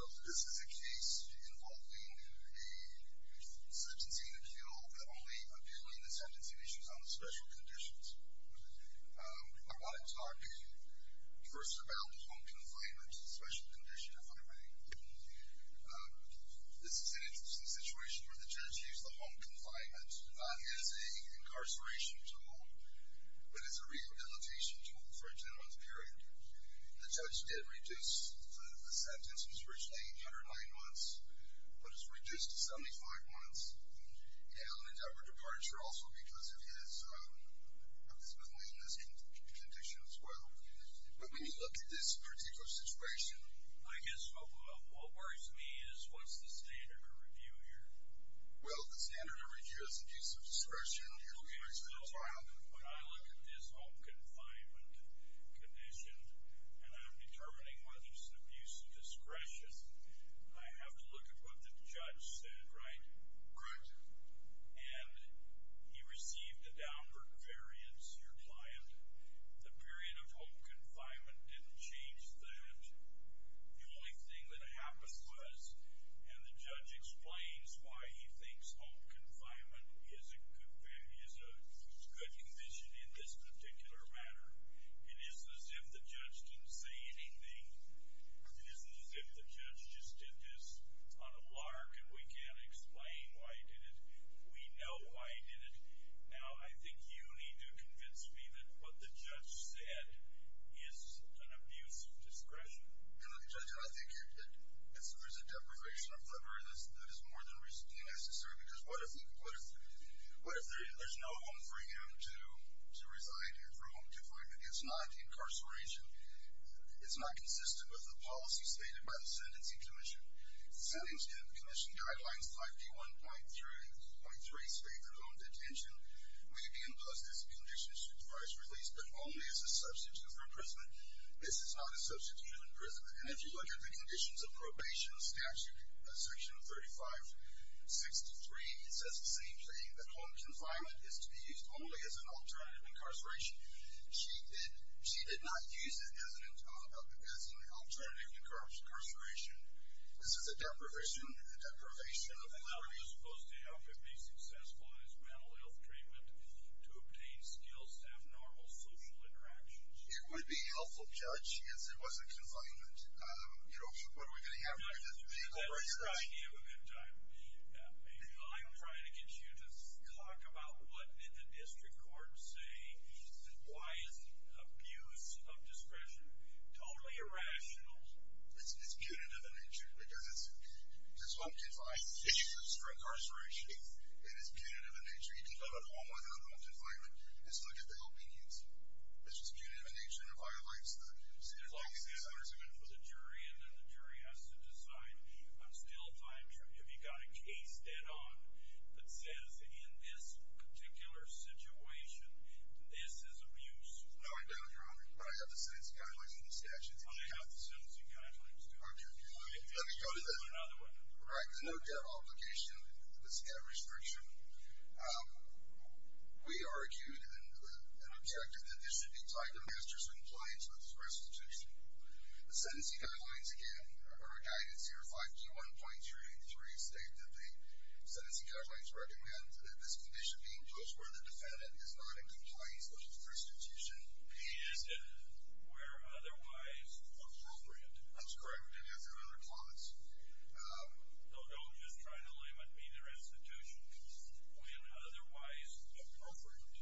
This is a case involving a sentencing appeal that only appealing the sentencing issues on the special conditions. I want to talk first about the home confinement, the special condition, if I may. This is an interesting situation where the judge used the home confinement as a way to not as an incarceration tool, but as a rehabilitation tool for a 10-month period. The judge did reduce the sentence. It was originally 809 months, but it's reduced to 75 months. And on a deliberate departure, also, because of his maleness condition as well. But when you look at this particular situation, I guess what worries me is, what's the standard of review here? Well, the standard of review is abuse of discretion. It'll be based on the time. Okay, so when I look at this home confinement condition, and I'm determining whether it's an abuse of discretion, I have to look at what the judge said, right? Correct. And he received a downward variance, your client. The period of home confinement didn't change that. The only thing that happened was, and the judge explains why he thinks home confinement is a good condition in this particular matter. It isn't as if the judge didn't say anything. It isn't as if the judge just did this on a lark, and we can't explain why he did it. We know why he did it. Now, I think you need to convince me that what the judge said is an abuse of discretion. Judge, I think there's a deprivation of liberty that is more than necessary. Because what if there's no home for him to reside in, for home confinement? It's not incarceration. It's not consistent with the policy stated by the Sentencing Commission. The Sentencing Commission guidelines 51.3 states that home detention may be imposed as a condition supervised release, but only as a substitute for imprisonment. This is not a substitute for imprisonment. And if you look at the conditions of probation statute, section 3563, it says the same thing, that home confinement is to be used only as an alternative incarceration. She did not use it as an alternative incarceration. This is a deprivation of liberty. And how are you supposed to help him be successful in his mental health treatment to obtain skills to have normal social interactions? It would be helpful, Judge, if it wasn't confinement. You know, what are we going to have with this vehicle right here? I'm trying to get you to talk about what did the district court say? Why is abuse of discretion totally irrational? It's punitive in nature, because it's home confinement. It's not incarceration. It is punitive in nature. You can come at home with him in a home confinement. You can still get the help he needs. It's just punitive in nature, and it violates the sentencing. The jury has to decide if you've got a case that says, in this particular situation, this is abuse. No, I don't, Your Honor. But I have the sentencing guidelines in the statute. I have the sentencing guidelines, too. Okay. Let me go to that. All right. The no care obligation, the staff restriction. We argued and objected that this should be tied to master's compliance with the restitution. The sentencing guidelines, again, are a guidance here, 5G1.383, state that the sentencing guidelines recommend that this condition be imposed where the defendant is not in compliance with the restitution. Is it where otherwise appropriate? That's correct. It has another clause. No, don't just try to limit me to restitution when otherwise appropriate.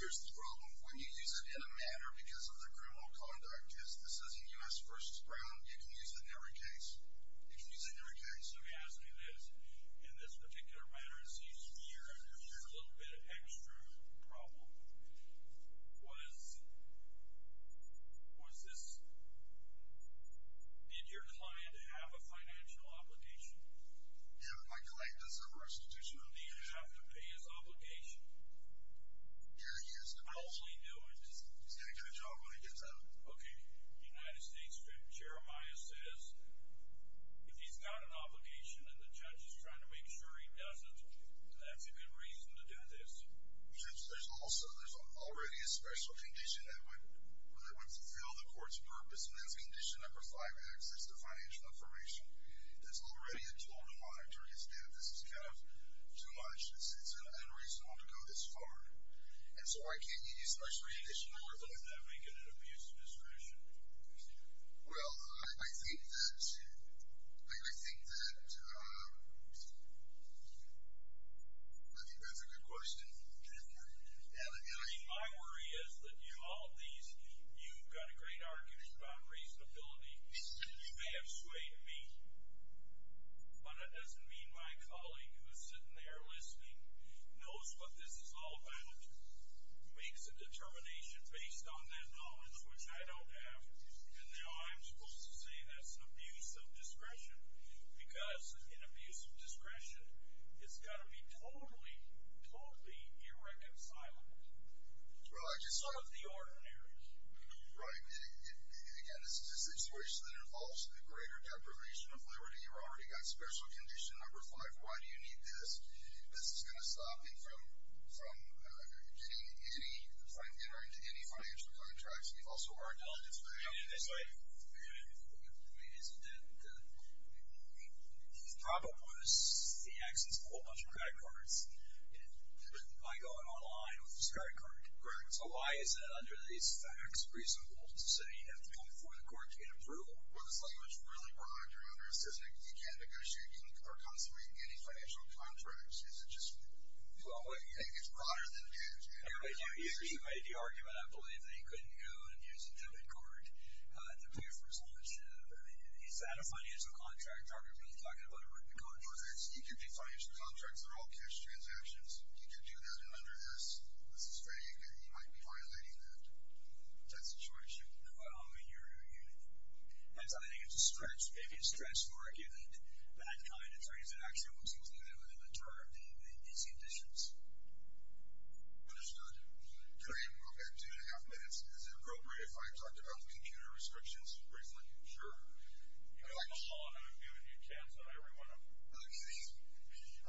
Here's the problem. When you use it in a manner because of the criminal conduct, this isn't U.S. v. Brown, you can use it in every case. You can use it in every case. Let me ask you this. In this particular manner, it seems here, there's a little bit of extra problem. Was this – did your client have a financial obligation? Yeah, my client does have a restitution obligation. Did he have to pay his obligation? Yeah, he has to pay it. I only knew it. He's going to get a job when he gets out. Okay. United States judge Jeremiah says if he's got an obligation and the judge is trying to make sure he doesn't, that's a good reason to do this. There's already a special condition that would fulfill the court's purpose, and that's condition number 5X. That's the financial information. That's already a tool to monitor his debt. This is kind of too much. It's unreasonable to go this far. And so why can't you use a special condition to work on that and make it an abuse of discretion? Well, I think that's a good question. My worry is that all of these, you've got a great argument about reasonability. You may have swayed me, but that doesn't mean my colleague who's sitting there listening knows what this is all about, makes a determination based on that knowledge, which I don't have. And now I'm supposed to say that's an abuse of discretion because an abuse of discretion has got to be totally, totally irreconcilable. It's sort of the ordinary. Right. Again, it's a situation that involves a greater deprivation of liberty. You've already got special condition number 5. Why do you need this? This is going to stop him from getting any, from entering into any financial contracts. You've also already done this. I mean, isn't that, he's probably going to see access to a whole bunch of credit cards by going online with his credit card. Correct. So why is that under these facts reasonable to say you have to come before the court to get approval? Well, this language is really broad. You can't negotiate or consummate any financial contracts. You think it's broader than that. You made the argument, I believe, that he couldn't go and use a debit card to pay for his ownership. Is that a financial contract? Are we really talking about a written contract? You can make financial contracts. They're all cash transactions. You can do that, and under this, this is vague, and you might be violating that situation. Well, I mean, you're, I think it's a stretch. Maybe it's a stretch to argue that that kind of reasonable action would serve these conditions. Understood. Can I interrupt at two and a half minutes? Is it appropriate if I talked about the computer restrictions briefly? Sure. You can go on. I'm giving you a chance on every one of them. Okay. The computer restrictions monitoring issue, special condition number six. This one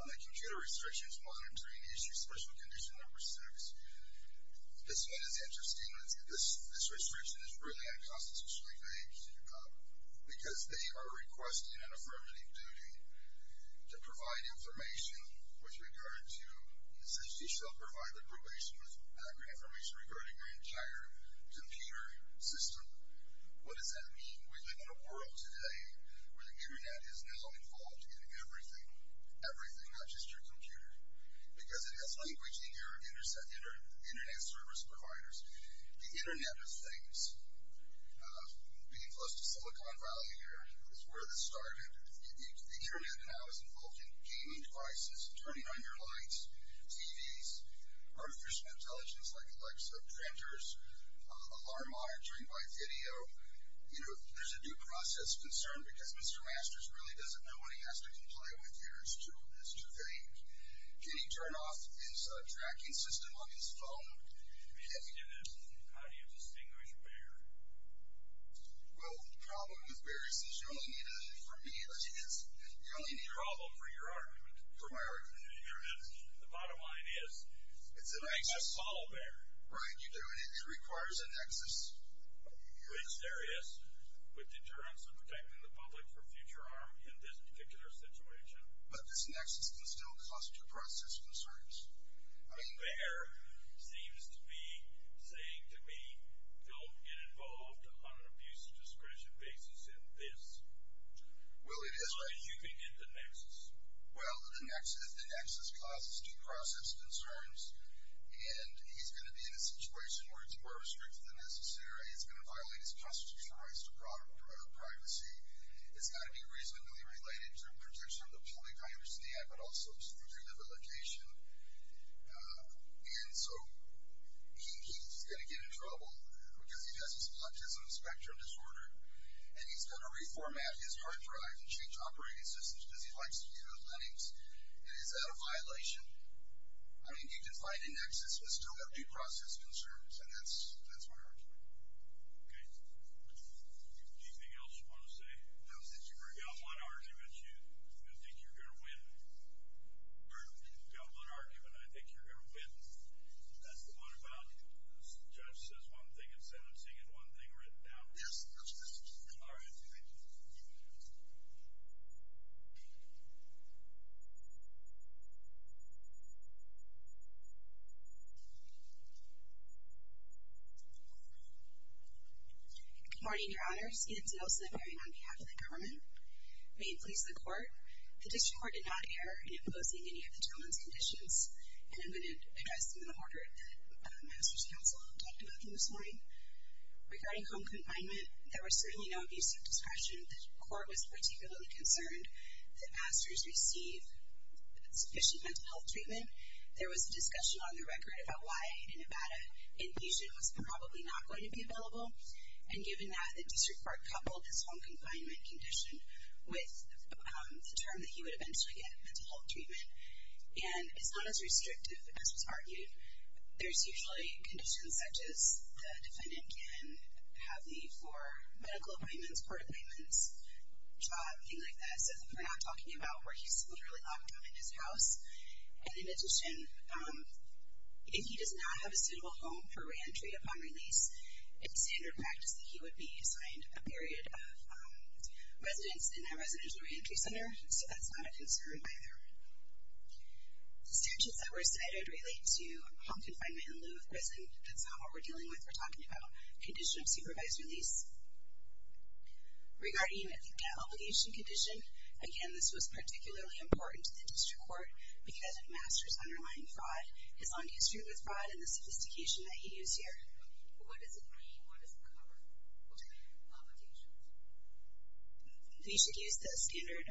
is interesting. This restriction is really unconstitutionally vague because they are requesting an affirmative duty to provide information with regard to, it says you shall provide the probation with accurate information regarding your entire computer system. What does that mean? We live in a world today where the Internet is now involved in everything, everything, not just your computer, because it has language in your Internet service providers. The Internet of Things, being close to Silicon Valley here, is where this started. The Internet now is involved in gaming devices, turning on your lights, TVs, artificial intelligence like Alexa, printers, alarm monitoring by video. You know, there's a due process concern because Mr. Masters really doesn't know what he has to comply with here. It's too vague. Can you turn off his tracking system on his phone? Yes, you can. How do you distinguish a bear? Well, the problem with bears is you only need a, for me it is, you only need a problem for your argument, for my argument. The bottom line is it's a solid bear. Right, you do it. It requires a nexus. Which there is. With deterrence of protecting the public from future harm in this particular situation. But this nexus can still cause due process concerns. I mean, bear seems to be saying to me, don't get involved on an abuse of discretion basis in this. Well, it is. And you can get the nexus. Well, the nexus causes due process concerns, and he's going to be in a situation where it's more restrictive than necessary. It's going to violate his custody rights to privacy. It's got to be reasonably related to protection of the public, I understand, but also through rehabilitation. And so he's going to get in trouble because he has a spondylocystis spectrum disorder, and he's going to reformat his hard drive and change operating systems because he likes to use Linux. And is that a violation? I mean, you can find a nexus but still have due process concerns, and that's my argument. Okay. Anything else you want to say? No, thank you very much. You've got one argument you think you're going to win. Pardon me? You've got one argument I think you're going to win. That's the one about the judge says one thing in sentencing and one thing written down. Yes, that's correct. All right. Thank you. Good morning, Your Honors. Edith DeNilson appearing on behalf of the government. May it please the Court. The District Court did not err in imposing any of the gentleman's conditions, and I'm going to address them in the order that the Master's Counsel talked about this morning. Regarding home confinement, there was certainly no abuse of discretion. The Court was particularly concerned that Masters receive sufficient mental health treatment. There was a discussion on the record about why in Nevada infusion was probably not going to be available, and given that the District Court coupled his home confinement condition with the term that he would eventually get mental health treatment, and it's not as restrictive as was argued. There's usually conditions such as the defendant can have the conditions for medical appointments, court appointments, job, things like that. So we're not talking about where he's literally locked up in his house. And in addition, if he does not have a suitable home for reentry upon release, it's standard practice that he would be assigned a period of residence in a residential reentry center. So that's not a concern either. Statutes that were cited relate to home confinement in lieu of prison. That's not what we're dealing with. We're talking about a condition of supervised release. Regarding the obligation condition, again, this was particularly important to the District Court because of Masters' underlying fraud, his long history with fraud, and the sophistication that he used here. What does it mean? What does it cover? What's the obligation? We should use the standard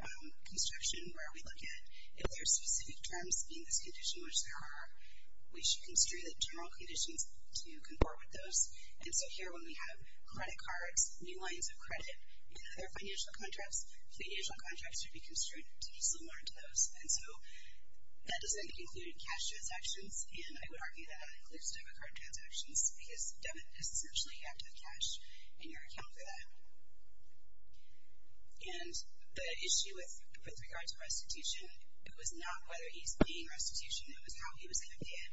construction where we look at if there are specific terms in this condition which there are, we should constrain the general conditions to comport with those. And so here when we have credit cards, new lines of credit, and other financial contracts, financial contracts should be constrained to be similar to those. And so that doesn't include cash transactions, and I would argue that that includes debit card transactions because Devin has essentially had to have cash in your account for that. And the issue with regard to restitution, it was not whether he's paying restitution. It was how he was going to pay it.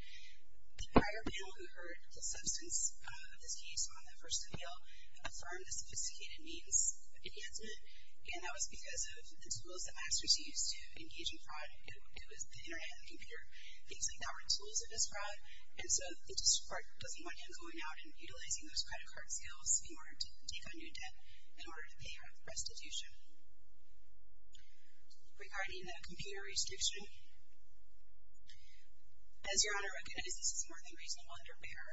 The prior panel who heard the substance of this case on the first appeal affirmed the sophisticated means enhancement, and that was because of the tools that Masters used to engage in fraud. It was the Internet and the computer. Things like that were tools of his fraud, and so the District Court doesn't want him going out and utilizing those credit card sales in order to take on new debt in order to pay restitution. Regarding the computer restriction, as Your Honor recognizes, this is more than reasonable under BEAR.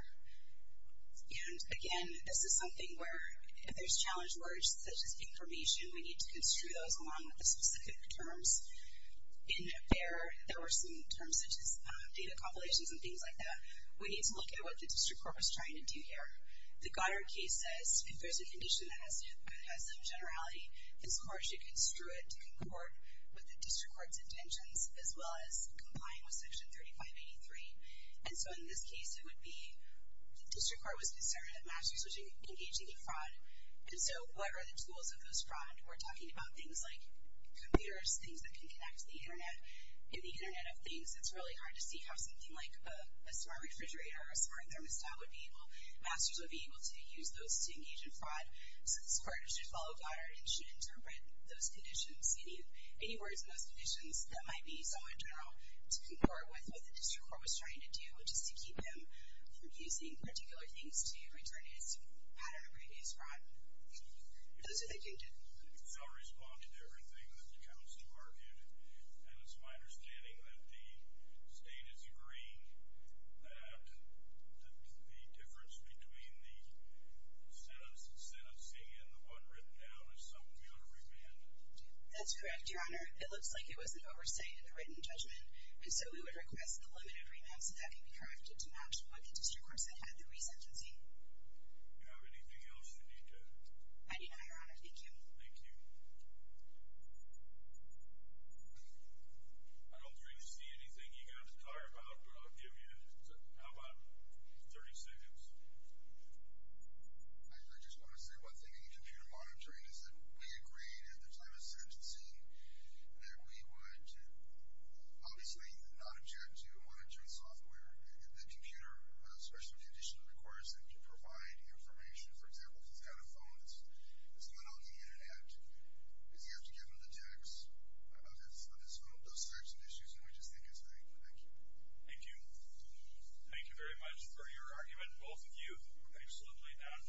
And again, this is something where if there's challenge words such as information, we need to construe those along with the specific terms. In BEAR, there were some terms such as data compilations and things like that. We need to look at what the District Court was trying to do here. The Goddard case says if there's a condition that has some generality, this Court should construe it to concord with the District Court's intentions as well as comply with Section 3583. And so in this case, it would be the District Court was concerned that Masters was engaging in fraud. And so what are the tools of his fraud? We're talking about things like computers, things that can connect to the Internet. In the Internet of Things, it's really hard to see how something like a smart refrigerator or a smart thermostat would be able, Masters would be able to use those to engage in fraud. So this Court should follow Goddard and should interpret those conditions, any words in those conditions that might be somewhat general to concord with what the District Court was trying to do, which is to keep him from using particular things to return his pattern of previous fraud. Those are the things. I'll respond to everything that the counsel argued. And it's my understanding that the State is agreeing that the difference between the sentencing and the one written down is something we ought to amend. That's correct, Your Honor. It looks like it was an overstatement in the written judgment. And so we would request the limited remand so that can be corrected to match what the District Court said had the resentencing. Do you have anything else for me to? I do not, Your Honor. Thank you. Thank you. I don't really see anything you got to talk about, but I'll give you, how about 30 seconds? I just want to say one thing in computer monitoring is that we agreed at the time of sentencing that we would obviously not object to monitoring software in the computer, especially when the addition requires that you provide information. For example, if he's got a phone that's not on the Internet, does he have to give him the text of his phone? Those types of issues, and we just think it's thankful. Thank you. Thank you. Thank you very much for your argument, both of you. Absolutely not.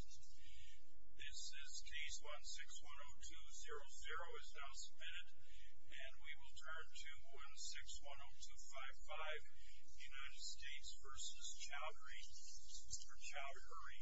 This is case 1610200 is now submitted, and we will turn to 1610255, United States v. Chowdhury. Mr. Chowdhury.